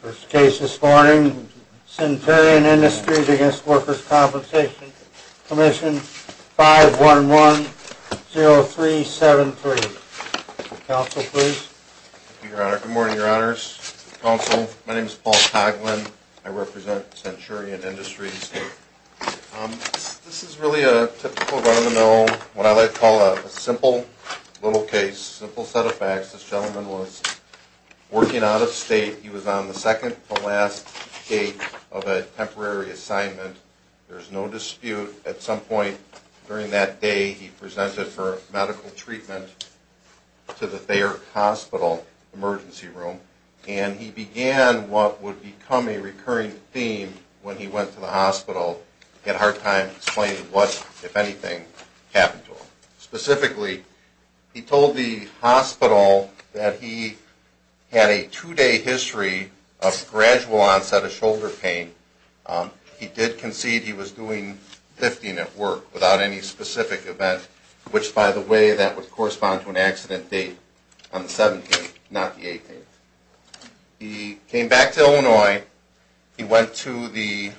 First case this morning, Centurion Industries v. Workers' Compensation Comm'n, 511-0373. Counsel, please. Thank you, Your Honor. Good morning, Your Honors. Counsel, my name is Paul Coghlan. I represent Centurion Industries. This is really a typical run of the mill, what I like to call a simple little case, simple set of facts. This gentleman was working out of state. He was on the second-to-last day of a temporary assignment. There was no dispute. At some point during that day, he presented for medical treatment to the Thayer Hospital Emergency Room. And he began what would become a recurring theme when he went to the hospital. He had a hard time explaining what, if anything, happened to him. Specifically, he told the hospital that he had a two-day history of gradual onset of shoulder pain. He did concede he was doing lifting at work without any specific event, which, by the way, that would correspond to an accident date on the 17th, not the 18th. He came back to Illinois. He went to the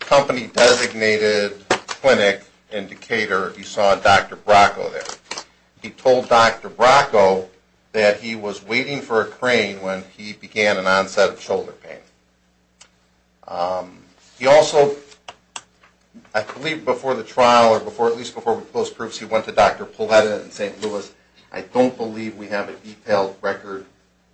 company-designated clinic in Decatur. He saw Dr. Bracco there. He told Dr. Bracco that he was waiting for a crane when he began an onset of shoulder pain. He also, I believe before the trial, or at least before the post-proofs, he went to Dr. Pauletta in St. Louis. I don't believe we have a detailed record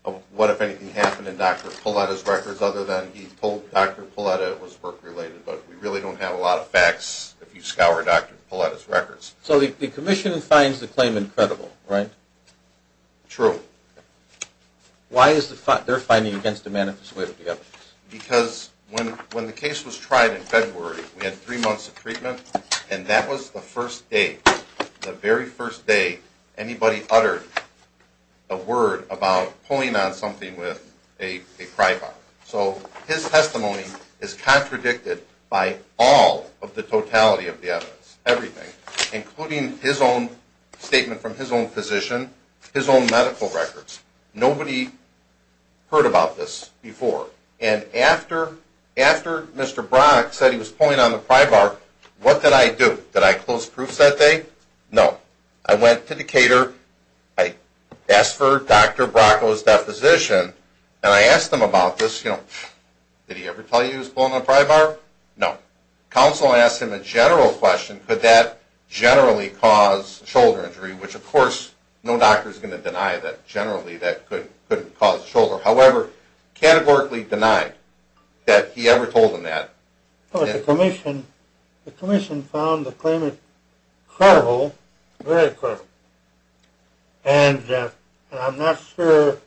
of what, if anything, happened in Dr. Pauletta's records, other than he told Dr. Pauletta it was work-related. But we really don't have a lot of facts if you scour Dr. Pauletta's records. So the Commission finds the claim incredible, right? True. Why is their finding against a manifest way of the evidence? Because when the case was tried in February, we had three months of treatment, and that was the first day, the very first day anybody uttered a word about pulling on something with a pry bar. So his testimony is contradicted by all of the totality of the evidence, everything, including his own statement from his own physician, his own medical records. Nobody heard about this before. And after Mr. Bracco said he was pulling on the pry bar, what did I do? Did I close proofs that day? No. I went to the caterer, I asked for Dr. Bracco's deposition, and I asked him about this. Did he ever tell you he was pulling on a pry bar? No. Counsel asked him a general question, could that generally cause shoulder injury, which of course no doctor is going to deny that generally that could cause shoulder. However, categorically denied that he ever told him that. But the Commission found the claim incredible, very incredible. And I'm not sure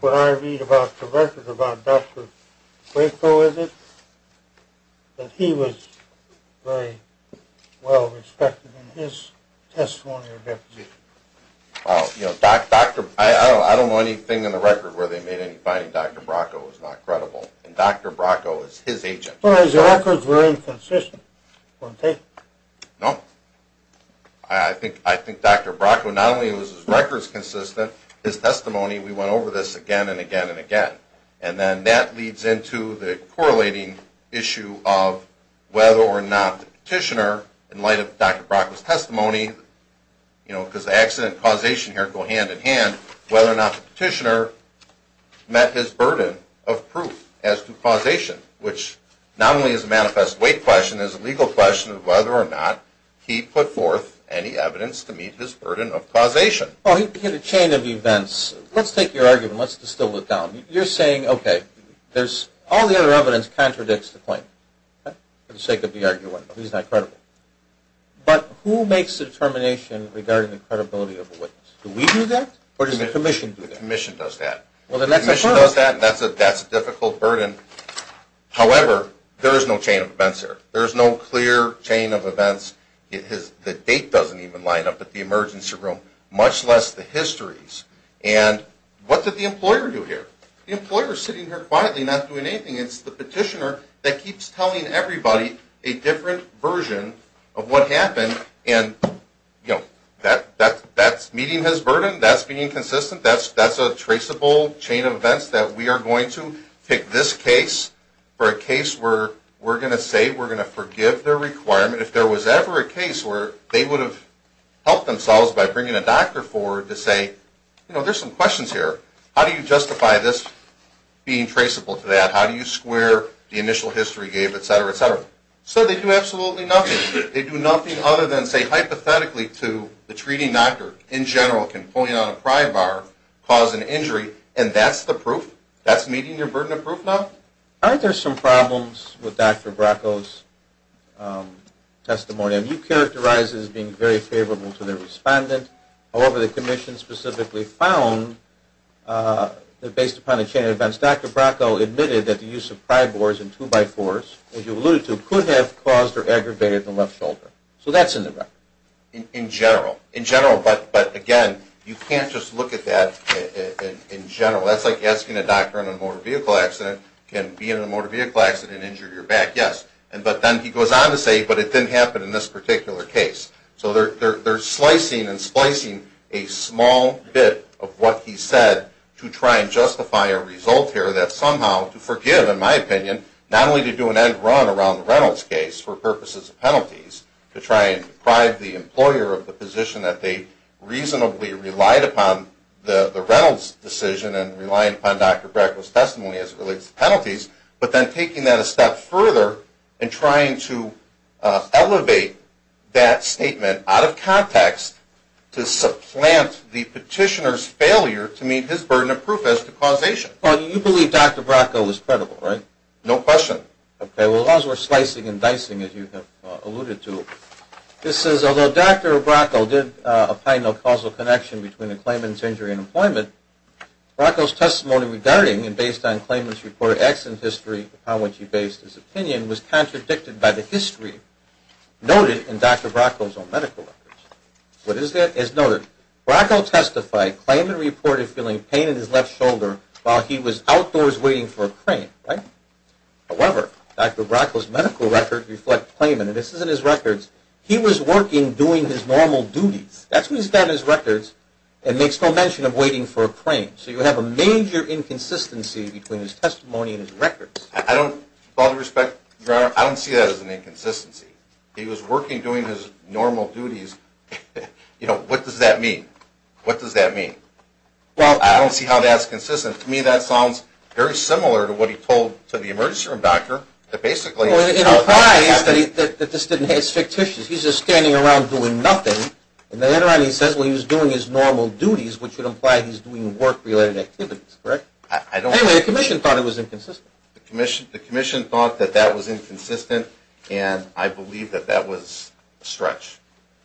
what I read about the record about Dr. Bracco in it, but he was very well respected in his testimony or deposition. Well, you know, I don't know anything in the record where they made any finding Dr. Bracco was not credible, and Dr. Bracco is his agent. Well, his records were inconsistent. No. I think Dr. Bracco, not only was his records consistent, his testimony, we went over this again and again and again. And then that leads into the correlating issue of whether or not the petitioner, in light of Dr. Bracco's testimony, you know, because the accident causation here go hand in hand, whether or not the petitioner met his burden of proof as to causation, which not only is a manifest weight question, it's a legal question of whether or not he put forth any evidence to meet his burden of causation. Well, you hit a chain of events. Let's take your argument. Let's distill it down. You're saying, okay, all the other evidence contradicts the claim for the sake of the argument. He's not credible. But who makes the determination regarding the credibility of a witness? Do we do that or does the Commission do that? The Commission does that. Well, then that's a burden. The Commission does that, and that's a difficult burden. However, there is no chain of events here. There is no clear chain of events. The date doesn't even line up at the emergency room, much less the histories. And what did the employer do here? The employer is sitting here quietly not doing anything. It's the petitioner that keeps telling everybody a different version of what happened. And, you know, that's meeting his burden. That's being consistent. That's a traceable chain of events that we are going to take this case for a case where we're going to say we're going to forgive their requirement. If there was ever a case where they would have helped themselves by bringing a doctor forward to say, you know, there's some questions here. How do you justify this being traceable to that? How do you square the initial history he gave, et cetera, et cetera? So they do absolutely nothing. They do nothing other than say hypothetically to the treating doctor, in general, can pulling out a pry bar cause an injury, and that's the proof? That's meeting your burden of proof now? I think there's some problems with Dr. Bracco's testimony. You characterized it as being very favorable to the respondent. However, the Commission specifically found that based upon the chain of events, Dr. Bracco admitted that the use of pry bars and two-by-fours, as you alluded to, could have caused or aggravated the left shoulder. So that's indirect. In general. In general, but again, you can't just look at that in general. That's like asking a doctor in a motor vehicle accident, can being in a motor vehicle accident injure your back? Yes. But then he goes on to say, but it didn't happen in this particular case. So they're slicing and splicing a small bit of what he said to try and justify a result here that somehow, to forgive, in my opinion, not only to do an end run around the Reynolds case for purposes of penalties, to try and deprive the employer of the position that they reasonably relied upon the Reynolds decision and relied upon Dr. Bracco's testimony as it relates to penalties, but then taking that a step further and trying to elevate that statement out of context to supplant the petitioner's failure to meet his burden of proof as to causation. Well, you believe Dr. Bracco was credible, right? No question. Okay. Well, as long as we're slicing and dicing, as you have alluded to. This says, although Dr. Bracco did opine of causal connection between the claimant's injury and employment, Bracco's testimony regarding and based on claimant's reported accident history upon which he based his opinion was contradicted by the history noted in Dr. Bracco's own medical records. What is that? It's noted. Bracco testified claimant reported feeling pain in his left shoulder while he was outdoors waiting for a crane, right? However, Dr. Bracco's medical records reflect claimant, and this is in his records, he was working doing his normal duties. That's what he's got in his records and makes no mention of waiting for a crane. So you have a major inconsistency between his testimony and his records. I don't, with all due respect, Your Honor, I don't see that as an inconsistency. He was working doing his normal duties. You know, what does that mean? What does that mean? Well, I don't see how that's consistent. To me, that sounds very similar to what he told to the emergency room doctor that basically, Well, it implies that this didn't, it's fictitious. He's just standing around doing nothing, and then he says he was doing his normal duties, which would imply he's doing work-related activities, correct? I don't, Anyway, the commission thought it was inconsistent. The commission thought that that was inconsistent, and I believe that that was a stretch,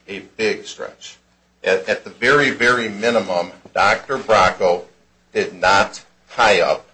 a big stretch. At the very, very minimum, Dr. Bracco did not tie up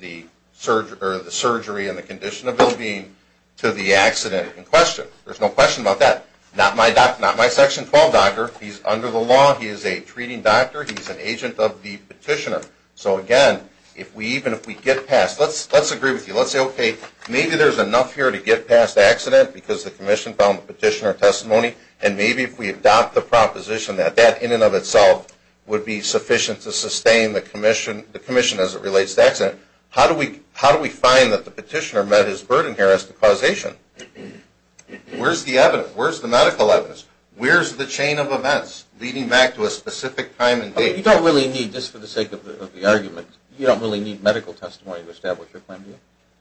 the surgery and the condition of his being to the accident in question. There's no question about that. Not my section 12 doctor. He's under the law. He is a treating doctor. He's an agent of the petitioner. So, again, if we even, if we get past, let's agree with you. Let's say, okay, maybe there's enough here to get past accident because the commission found the petitioner testimony, and maybe if we adopt the proposition that that in and of itself would be sufficient to sustain the commission as it relates to accident. How do we find that the petitioner met his burden here as to causation? Where's the evidence? Where's the medical evidence? Where's the chain of events leading back to a specific time and date? If you don't really need, just for the sake of the argument, you don't really need medical testimony to establish your plan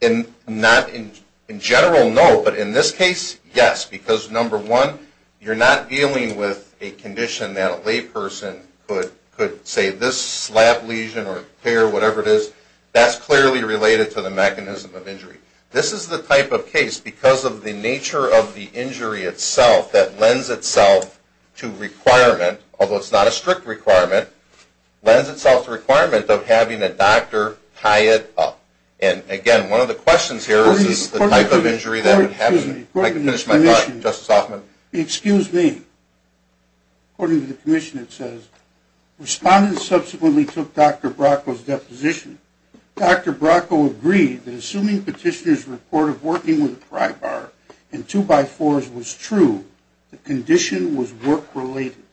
B? Not in general, no, but in this case, yes, because, number one, you're not dealing with a condition that a layperson could say this slab lesion or tear, whatever it is, that's clearly related to the mechanism of injury. This is the type of case, because of the nature of the injury itself, that lends itself to requirement, although it's not a strict requirement, lends itself to requirement of having a doctor tie it up. And, again, one of the questions here is the type of injury that would happen. Excuse me. I can finish my thought, Justice Hoffman. Excuse me. According to the commission, it says, respondents subsequently took Dr. Bracco's deposition. Dr. Bracco agreed that assuming petitioner's report of working with a pry bar and two-by-fours was true, the condition was work-related.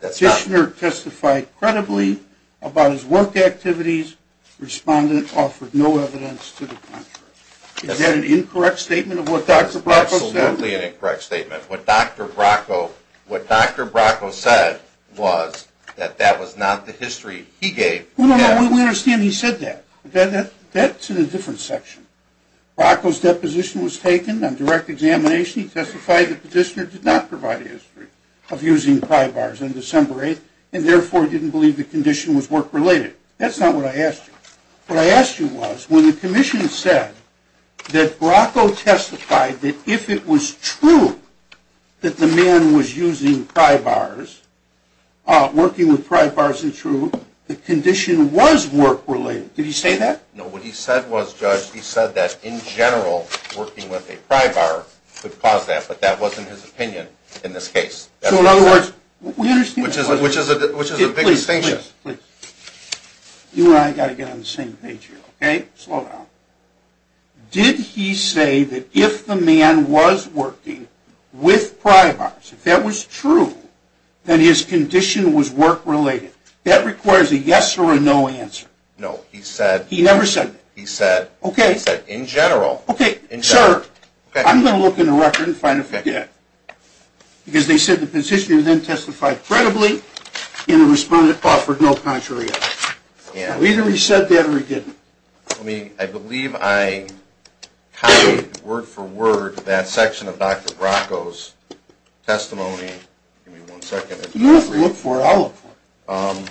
Petitioner testified credibly about his work activities. Respondent offered no evidence to the contrary. Is that an incorrect statement of what Dr. Bracco said? Absolutely an incorrect statement. What Dr. Bracco said was that that was not the history he gave. No, no, no, we understand he said that. That's in a different section. Bracco's deposition was taken on direct examination. Petitioner testified that petitioner did not provide a history of using pry bars on December 8th and, therefore, didn't believe the condition was work-related. That's not what I asked you. What I asked you was when the commission said that Bracco testified that if it was true that the man was using pry bars, working with pry bars and true, the condition was work-related. Did he say that? No, what he said was, Judge, he said that in general working with a pry bar could cause that, but that wasn't his opinion in this case. So, in other words, we understand that. Which is a big distinction. Please, please, please. You and I have got to get on the same page here, okay? Slow down. Did he say that if the man was working with pry bars, if that was true, then his condition was work-related? That requires a yes or a no answer. No, he said. He never said that? He said. Okay. He said in general. Okay. Sir, I'm going to look in the record and find a figure. Because they said the positioner then testified credibly and the respondent offered no contrary evidence. Either he said that or he didn't. I believe I copied word for word that section of Dr. Bracco's testimony. Give me one second. You look for it. I'll look for it. I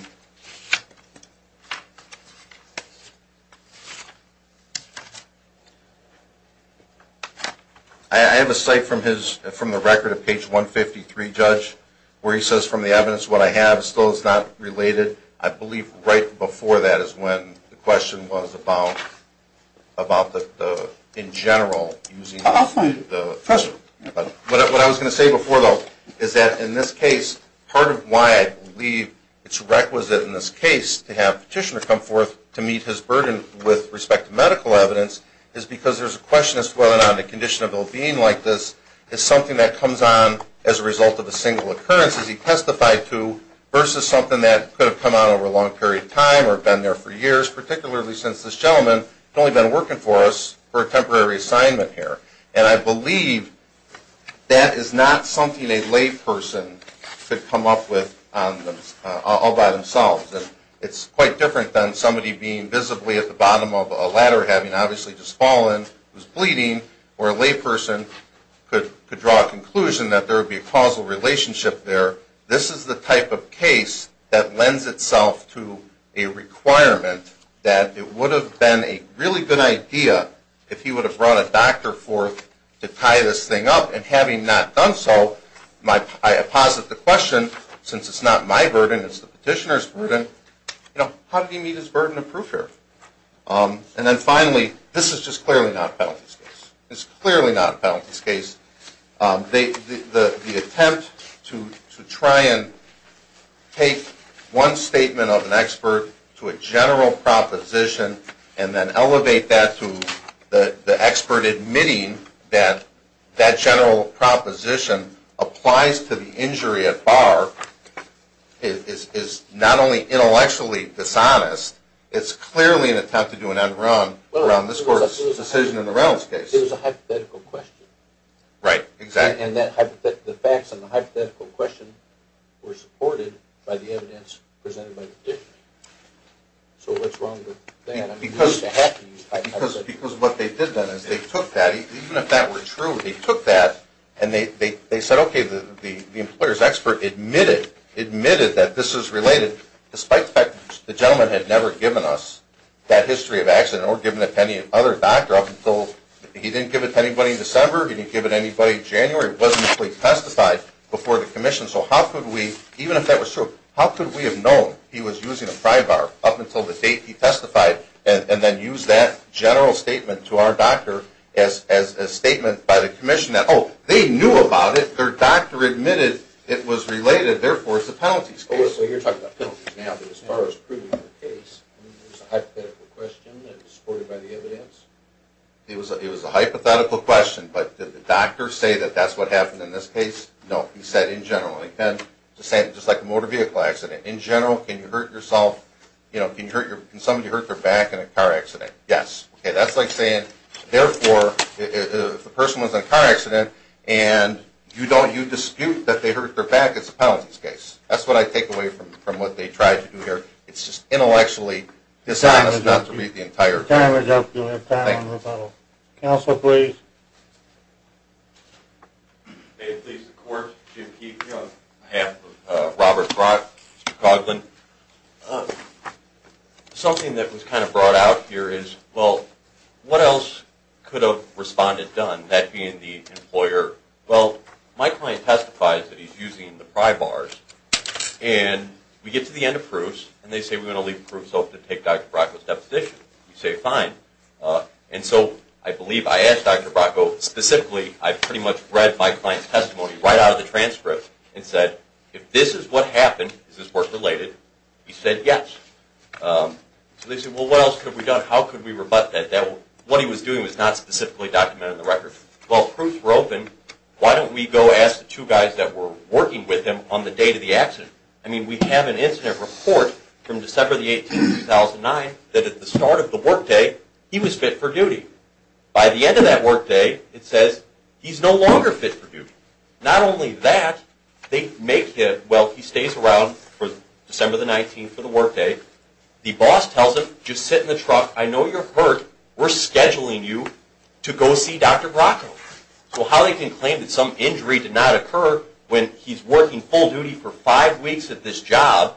have a cite from the record of page 153, Judge, where he says from the evidence, what I have still is not related. I believe right before that is when the question was about the in general. I'll find it. What I was going to say before, though, is that in this case, part of why I believe it's requisite in this case to have petitioner come forth to meet his burden with respect to medical evidence is because there's a question as to whether or not a condition of ill-being like this is something that comes on as a result of a single occurrence, as he testified to, versus something that could have come on over a long period of time or been there for years, particularly since this gentleman had only been working for us for a temporary assignment here. And I believe that is not something a layperson could come up with all by themselves. It's quite different than somebody being visibly at the bottom of a ladder having obviously just fallen, was bleeding, or a layperson could draw a conclusion that there would be a causal relationship there. This is the type of case that lends itself to a requirement that it would have been a really good idea if he would have brought a doctor forth to tie this thing up. And having not done so, I posit the question, since it's not my burden, it's the petitioner's burden, how did he meet his burden of proof here? And then finally, this is just clearly not a penalties case. It's clearly not a penalties case. The attempt to try and take one statement of an expert to a general proposition and then elevate that to the expert admitting that that general proposition applies to the injury at bar is not only intellectually dishonest, it's clearly an attempt to do an end-run around this Court's decision in the Reynolds case. It was a hypothetical question. Right, exactly. And the facts on the hypothetical question were supported by the evidence presented by the petitioner. So what's wrong with that? Because what they did then is they took that, even if that were true, they took that and they said, okay, the employer's expert admitted that this is related, despite the fact that the gentleman had never given us that history of accident or given it to any other doctor up until he didn't give it to anybody in December, he didn't give it to anybody in January, it wasn't actually testified before the Commission, so how could we, even if that were true, how could we have known he was using a pry bar up until the date he testified and then use that general statement to our doctor as a statement by the Commission that, oh, they knew about it, their doctor admitted it was related, therefore it's a penalties case. So you're talking about penalties now, but as far as proving the case, it was a hypothetical question that was supported by the evidence? It was a hypothetical question, but did the doctor say that that's what happened in this case? No, he said in general, just like a motor vehicle accident, in general, can you hurt yourself, can somebody hurt their back in a car accident? Yes. Okay, that's like saying, therefore, if the person was in a car accident and you dispute that they hurt their back, it's a penalties case. That's what I take away from what they tried to do here. It's just intellectually dishonest not to read the entire thing. Time is up. You'll have time on rebuttal. Counsel, please. Thank you. May it please the Court, Jim Keefe on behalf of Robert Brock, Mr. Coughlin. Something that was kind of brought out here is, well, what else could a respondent have done, that being the employer, well, my client testifies that he's using the pry bars, and we get to the end of proofs, and they say we're going to leave proofs open to take Dr. Brock's deposition. We say fine. And so I believe I asked Dr. Brock specifically. I pretty much read my client's testimony right out of the transcript and said, if this is what happened, is this work related? He said yes. So they said, well, what else could we have done? How could we rebut that? What he was doing was not specifically documented in the record. Well, proofs were open. Why don't we go ask the two guys that were working with him on the date of the accident? I mean, we have an incident report from December the 18th, 2009, that at the start of the workday, he was fit for duty. By the end of that workday, it says he's no longer fit for duty. Not only that, they make him, well, he stays around for December the 19th for the workday. The boss tells him, just sit in the truck. I know you're hurt. We're scheduling you to go see Dr. Brock. So how they can claim that some injury did not occur when he's working full duty for five weeks at this job,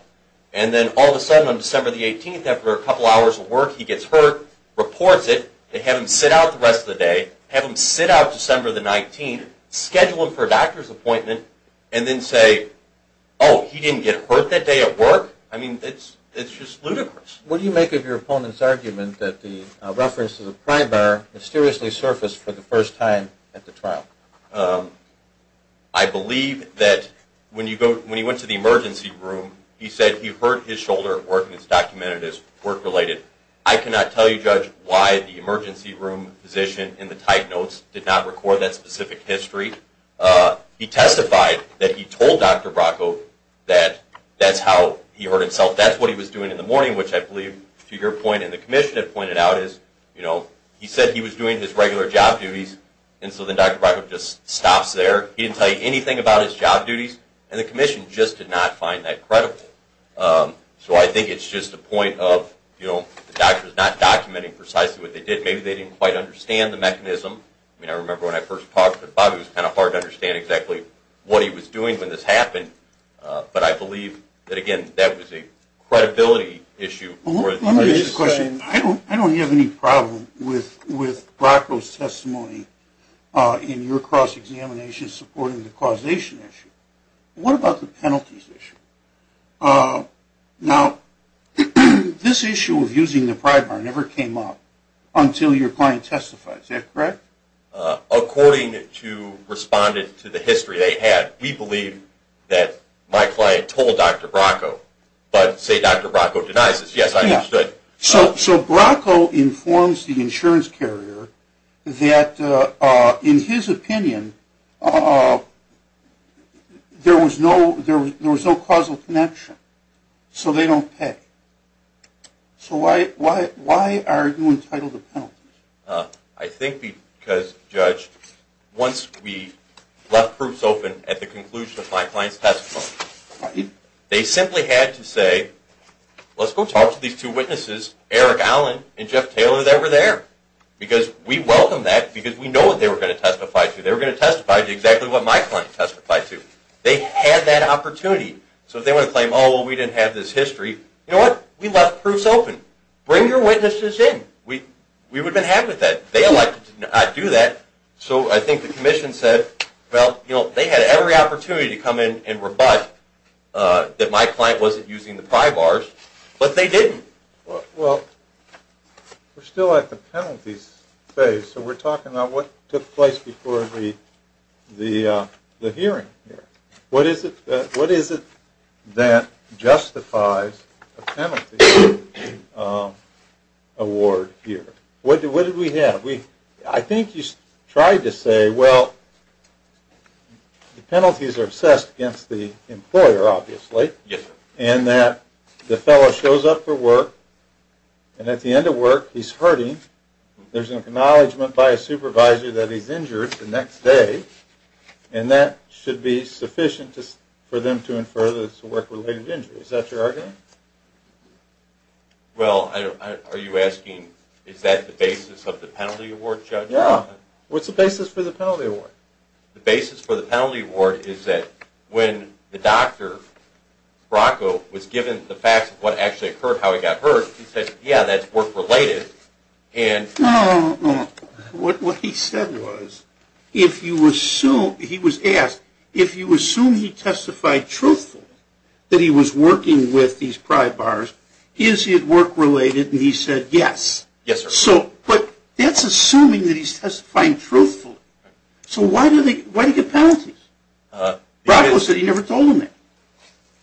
and then all of a sudden on December the 18th, after a couple hours of work, he gets hurt, reports it, they have him sit out the rest of the day, have him sit out December the 19th, schedule him for a doctor's appointment, and then say, oh, he didn't get hurt that day at work? I mean, it's just ludicrous. What do you make of your opponent's argument that the reference to the pry bar mysteriously surfaced for the first time at the trial? I believe that when he went to the emergency room, he said he hurt his shoulder at work, and it's documented as work-related. I cannot tell you, Judge, why the emergency room physician in the type notes did not record that specific history. He testified that he told Dr. Brock that that's how he hurt himself. That's what he was doing in the morning, which I believe, to your point and the commission had pointed out, is he said he was doing his regular job duties, and so then Dr. Brock just stops there. He didn't tell you anything about his job duties, and the commission just did not find that credible. So I think it's just a point of the doctors not documenting precisely what they did. Maybe they didn't quite understand the mechanism. I mean, I remember when I first talked to Bobby, it was kind of hard to understand exactly what he was doing when this happened. But I believe that, again, that was a credibility issue. Let me ask you a question. I don't have any problem with Brock's testimony in your cross-examination supporting the causation issue. What about the penalties issue? Now, this issue of using the pry bar never came up until your client testified. Is that correct? According to responded to the history they had, we believe that my client told Dr. Brocko, but say Dr. Brocko denies it. Yes, I understood. So Brocko informs the insurance carrier that, in his opinion, there was no causal connection, so they don't pay. I think because, Judge, once we left proofs open at the conclusion of my client's testimony, they simply had to say, let's go talk to these two witnesses, Eric Allen and Jeff Taylor, that were there. Because we welcome that because we know what they were going to testify to. They were going to testify to exactly what my client testified to. They had that opportunity. So if they want to claim, oh, well, we didn't have this history, you know what? We left proofs open. Bring your witnesses in. We would have been happy with that. They elected to not do that, so I think the commission said, well, you know, they had every opportunity to come in and rebut that my client wasn't using the pry bars, but they didn't. Well, we're still at the penalties phase, so we're talking about what took place before the hearing here. What is it that justifies a penalty award here? What did we have? I think you tried to say, well, the penalties are assessed against the employer, obviously, and that the fellow shows up for work, and at the end of work, he's hurting. There's an acknowledgment by a supervisor that he's injured the next day, and that should be sufficient for them to infer that it's a work-related injury. Is that your argument? Well, are you asking, is that the basis of the penalty award, Judge? Yeah. What's the basis for the penalty award? The basis for the penalty award is that when the doctor, Brocco, was given the facts of what actually occurred, how he got hurt, he said, yeah, that's work-related. No, no, no. What he said was, if you assume he testified truthful that he was working with these pry bars, is it work-related? And he said, yes. Yes, sir. But that's assuming that he's testifying truthfully. So why do you get penalties? Brocco said he never told him that.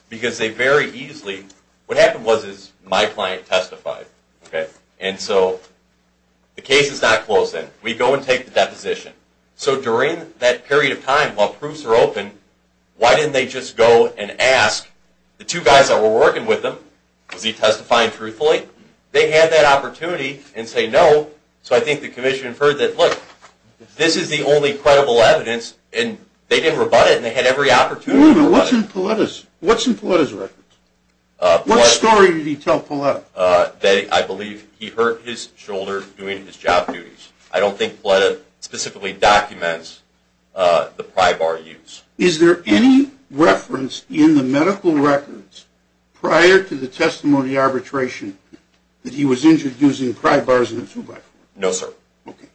Because they very easily, what happened was my client testified. And so the case is not closed then. We go and take the deposition. So during that period of time, while proofs are open, why didn't they just go and ask the two guys that were working with him, was he testifying truthfully? They had that opportunity, and say no. So I think the commission inferred that, look, this is the only credible evidence, What's in Pauletta's records? What story did he tell Pauletta? I believe he hurt his shoulder doing his job duties. I don't think Pauletta specifically documents the pry bar use. Is there any reference in the medical records prior to the testimony arbitration that he was injured using pry bars in a two-by-four? No, sir. Okay.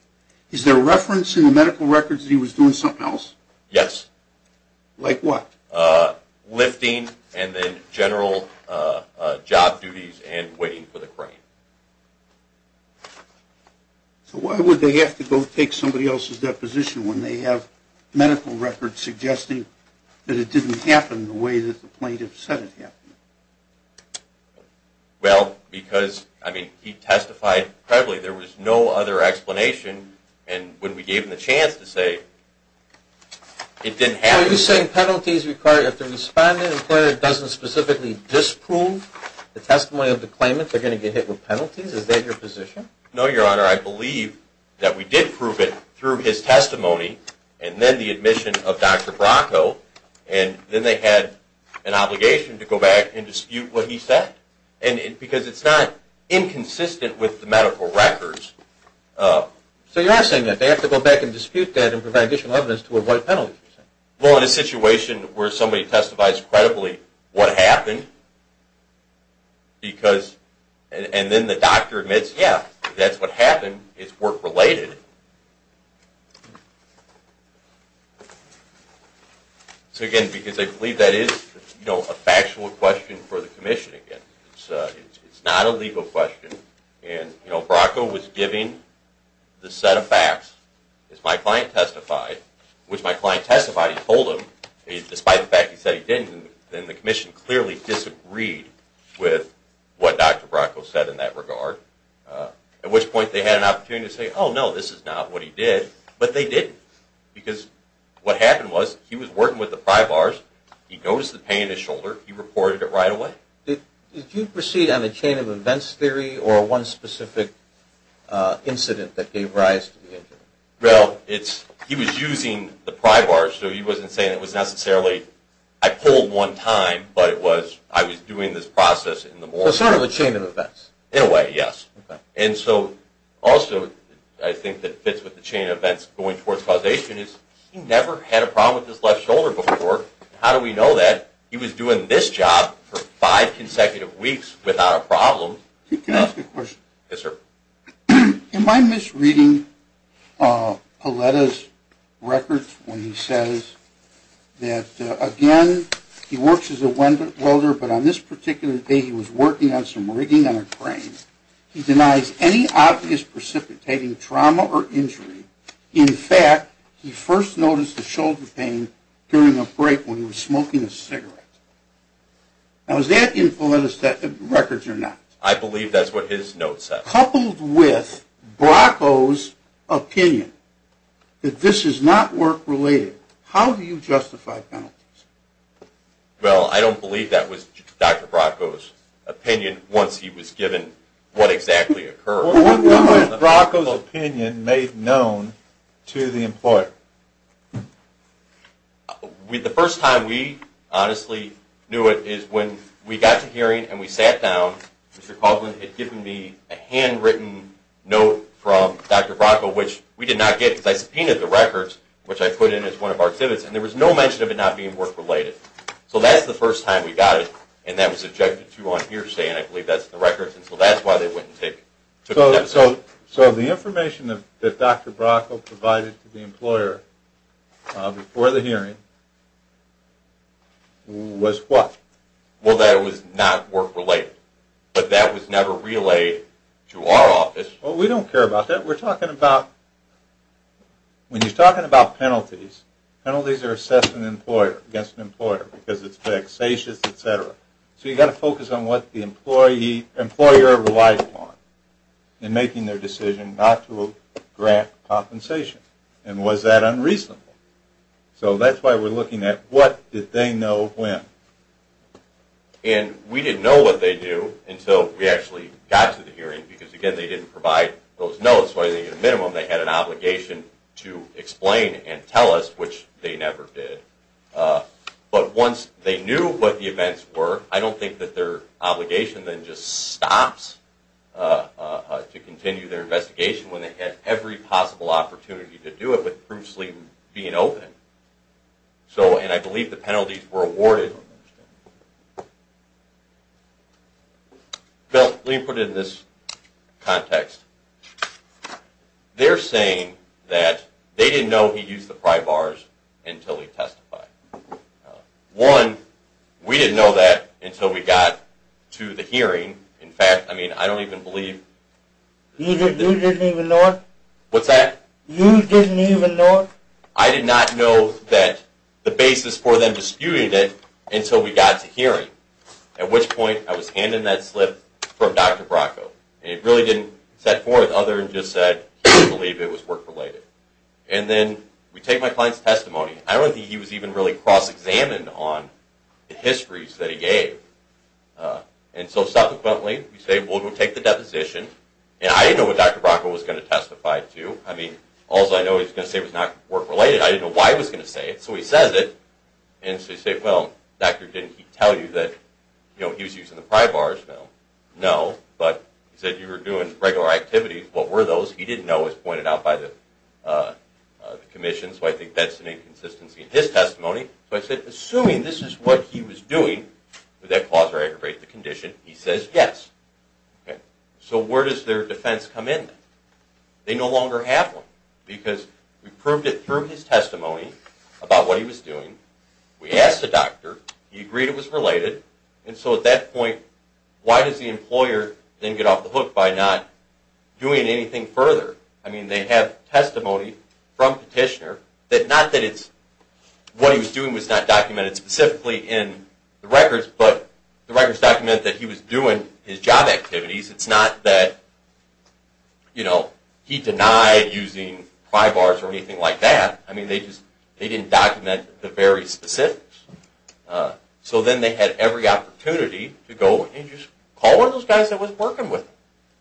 Is there reference in the medical records that he was doing something else? Yes. Like what? Lifting and then general job duties and waiting for the crane. So why would they have to go take somebody else's deposition when they have medical records suggesting that it didn't happen the way that the plaintiff said it happened? Well, because, I mean, he testified credibly. There was no other explanation. And when we gave him the chance to say it didn't happen the way he said it happened. So are you saying penalties required if the respondent, the employer, doesn't specifically disprove the testimony of the claimant, they're going to get hit with penalties? Is that your position? No, Your Honor. I believe that we did prove it through his testimony and then the admission of Dr. Bracco, and then they had an obligation to go back and dispute what he said. Because it's not inconsistent with the medical records. So you are saying that they have to go back and dispute that and provide additional evidence to avoid penalties? Well, in a situation where somebody testifies credibly, what happened? And then the doctor admits, yeah, that's what happened. It's work-related. So, again, because I believe that is a factual question for the commission, again. It's not a legal question. And Bracco was giving the set of facts. As my client testified, which my client testified he told him, despite the fact he said he didn't, then the commission clearly disagreed with what Dr. Bracco said in that regard. At which point they had an opportunity to say, oh, no, this is not what he did, but they didn't. Because what happened was he was working with the pry bars, he noticed the pain in his shoulder, he reported it right away. Did you proceed on a chain of events theory or one specific incident that gave rise to the injury? Well, he was using the pry bars, so he wasn't saying it was necessarily I pulled one time, but it was I was doing this process in the morning. So sort of a chain of events? In a way, yes. And so also I think that fits with the chain of events going towards causation is he never had a problem with his left shoulder before. How do we know that? He was doing this job for five consecutive weeks without a problem. Can I ask a question? Yes, sir. Am I misreading Pauletta's records when he says that, again, he works as a welder, but on this particular day he was working on some rigging on a crane. He denies any obvious precipitating trauma or injury. In fact, he first noticed the shoulder pain during a break when he was smoking a cigarette. Now, is that in Pauletta's records or not? I believe that's what his note says. Coupled with Brocko's opinion that this is not work-related, how do you justify penalties? Well, I don't believe that was Dr. Brocko's opinion once he was given what exactly occurred. What was Brocko's opinion made known to the employer? The first time we honestly knew it is when we got to hearing and we sat down, Mr. Coughlin had given me a handwritten note from Dr. Brocko, which we did not get because I subpoenaed the records, which I put in as one of our exhibits, and there was no mention of it not being work-related. So that's the first time we got it, and that was objected to on here today, and I believe that's in the records, and so that's why they wouldn't take it. So the information that Dr. Brocko provided to the employer before the hearing was what? Well, that it was not work-related, but that was never relayed to our office. Well, we don't care about that. We're talking about, when you're talking about penalties, penalties are assessed against an employer because it's vexatious, etc. So you've got to focus on what the employer relies upon in making their decision not to grant compensation, and was that unreasonable? So that's why we're looking at what did they know when. And we didn't know what they knew until we actually got to the hearing because, again, they didn't provide those notes, so I think at a minimum they had an obligation to explain and tell us, which they never did. But once they knew what the events were, I don't think that their obligation then just stops to continue their investigation when they had every possible opportunity to do it with proofs being open. And I believe the penalties were awarded. I don't understand. Bill, let me put it in this context. They're saying that they didn't know he used the pry bars until he testified. One, we didn't know that until we got to the hearing. In fact, I mean, I don't even believe. You didn't even know it? What's that? You didn't even know it? I did not know that the basis for them disputing it until we got to hearing, at which point I was handing that slip from Dr. Bracco. And it really didn't set forth other than just said, he didn't believe it was work-related. And then we take my client's testimony. I don't think he was even really cross-examined on the histories that he gave. And so, subsequently, we say, well, we'll take the deposition. And I didn't know what Dr. Bracco was going to testify to. I mean, all I know he was going to say was not work-related. I didn't know why he was going to say it. So he says it. And so you say, well, Dr., didn't he tell you that he was using the pry bars? No. But he said you were doing regular activities. What were those? He didn't know. It was pointed out by the commission. So I think that's an inconsistency in his testimony. So I said, assuming this is what he was doing, would that cause or aggravate the condition? He says yes. So where does their defense come in? They no longer have one because we proved it through his testimony about what he was doing. We asked the doctor. He agreed it was related. And so at that point, why does the employer then get off the hook by not doing anything further? I mean, they have testimony from Petitioner that not that what he was doing was not documented specifically in the records, but the records document that he was doing his job activities. It's not that he denied using pry bars or anything like that. I mean, they didn't document the very specifics. So then they had every opportunity to go and just call one of those guys that was working with him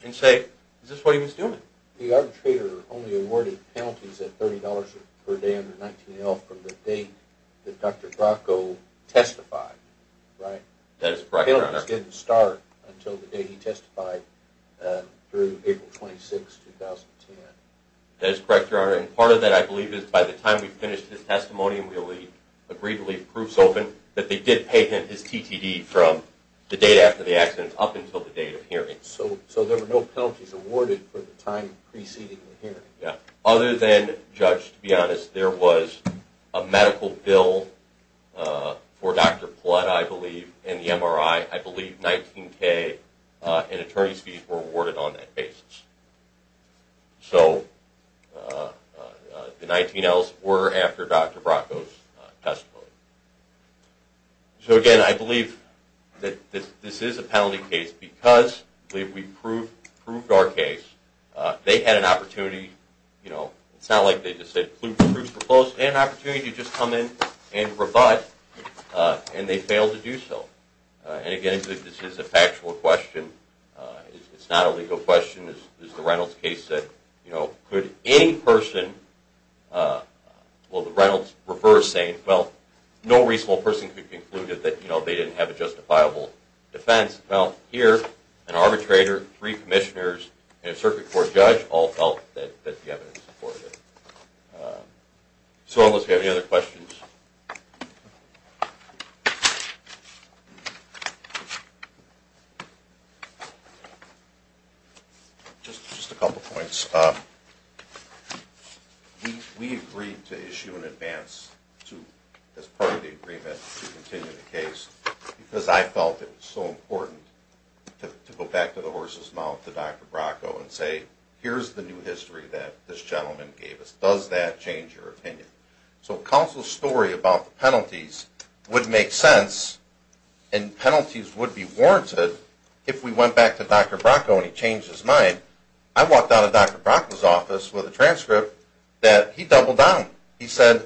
and say, is this what he was doing? The arbitrator only awarded penalties at $30 per day under 19-L from the date that Dr. Bracco testified, right? That is correct, Your Honor. Penalties didn't start until the day he testified through April 26, 2010. That is correct, Your Honor. And part of that, I believe, is by the time we finished his testimony and we agreed to leave proofs open, that they did pay him his TTD from the date after the accident up until the date of hearing. So there were no penalties awarded for the time preceding the hearing? Yeah. Other than, Judge, to be honest, there was a medical bill for Dr. Plutt, I believe, and the MRI. I believe $19,000 in attorney's fees were awarded on that basis. So the 19-Ls were after Dr. Bracco's testimony. So, again, I believe that this is a penalty case because we proved our case. They had an opportunity. It's not like they just said, They had an opportunity to just come in and rebut, and they failed to do so. And, again, this is a factual question. It's not a legal question. It's the Reynolds case that, you know, could any person, well, the Reynolds refer saying, well, no reasonable person could conclude that they didn't have a justifiable defense. Well, here, an arbitrator, three commissioners, and a circuit court judge all felt that the evidence supported it. So unless you have any other questions. Just a couple points. We agreed to issue an advance as part of the agreement to continue the case because I felt it was so important to go back to the horse's mouth, to Dr. Bracco, and say, here's the new history that this gentleman gave us. Does that change your opinion? So counsel's story about the penalties would make sense, and penalties would be warranted if we went back to Dr. Bracco and he changed his mind. I walked out of Dr. Bracco's office with a transcript that he doubled down. He said,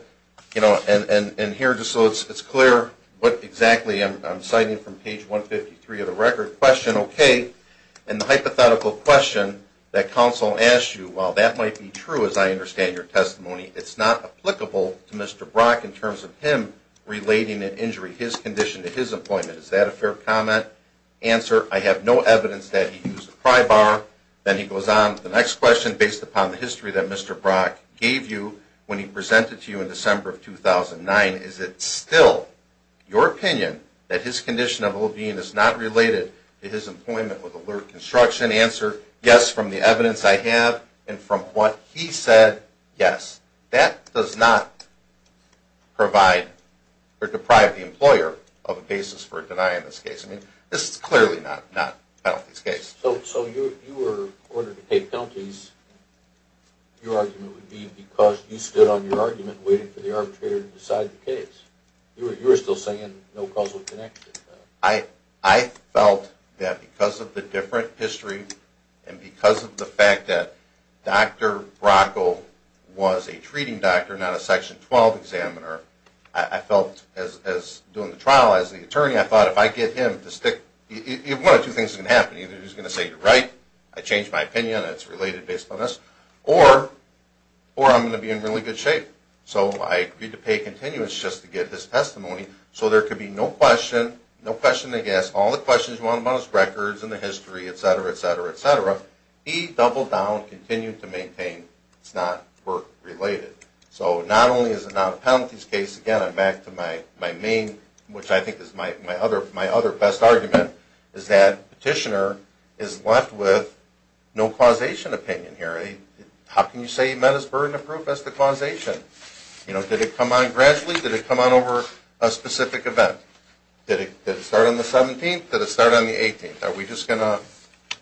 you know, and here just so it's clear what exactly I'm citing from page 153 of the record. Is your question okay? And the hypothetical question that counsel asked you, well, that might be true as I understand your testimony. It's not applicable to Mr. Bracco in terms of him relating an injury, his condition, to his appointment. Is that a fair comment? Answer, I have no evidence that he used a pry bar. Then he goes on to the next question based upon the history that Mr. Bracco gave you when he presented to you in December of 2009. Is it still your opinion that his condition of OB and it's not related to his appointment with alert construction? Answer, yes, from the evidence I have and from what he said, yes. That does not provide or deprive the employer of a basis for a deny in this case. I mean, this is clearly not penalties case. So if you were ordered to pay penalties, your argument would be because you stood on your argument waiting for the case. You were still saying no causal connection. I felt that because of the different history and because of the fact that Dr. Bracco was a treating doctor, not a Section 12 examiner, I felt as doing the trial as the attorney, I thought if I get him to stick, one of two things is going to happen. Either he's going to say you're right, I changed my opinion, it's related based on this, or I'm going to be in really good shape. So I agreed to pay continuance just to get his testimony. So there could be no question, no question, I guess, all the questions you want about his records and the history, et cetera, et cetera, et cetera. He doubled down, continued to maintain it's not work related. So not only is it not a penalties case, again, I'm back to my main, which I think is my other best argument, is that petitioner is left with no causation opinion here. How can you say he met his burden of proof? What's the causation? Did it come on gradually? Did it come on over a specific event? Did it start on the 17th? Did it start on the 18th? Are we just going to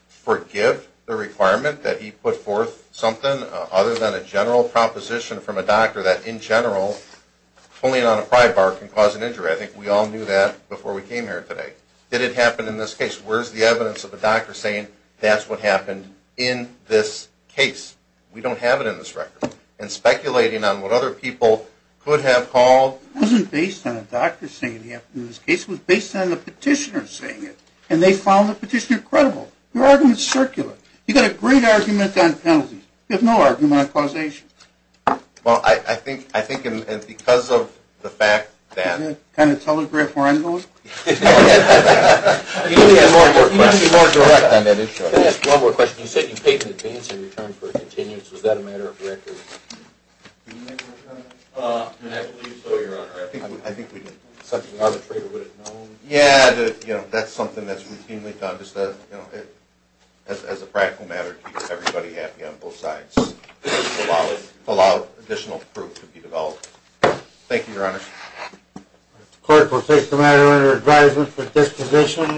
forgive the requirement that he put forth something other than a general proposition from a doctor that, in general, pulling on a pry bar can cause an injury? I think we all knew that before we came here today. Did it happen in this case? Where's the evidence of the doctor saying that's what happened in this case? We don't have it in this record. And speculating on what other people could have called. It wasn't based on a doctor saying it in this case. It was based on the petitioner saying it. And they found the petitioner credible. Your argument is circular. You've got a great argument on penalties. You have no argument on causation. Well, I think because of the fact that. Can you kind of telegraph where I'm going? You need to be more direct on that issue. Can I ask one more question? You said you paid in advance in return for a continuance. Was that a matter of record? I believe so, Your Honor. I think we did. Yeah, that's something that's routinely done. As a practical matter, it keeps everybody happy on both sides. It allowed additional proof to be developed. Thank you, Your Honor. The court will take the matter under advisement for disposition.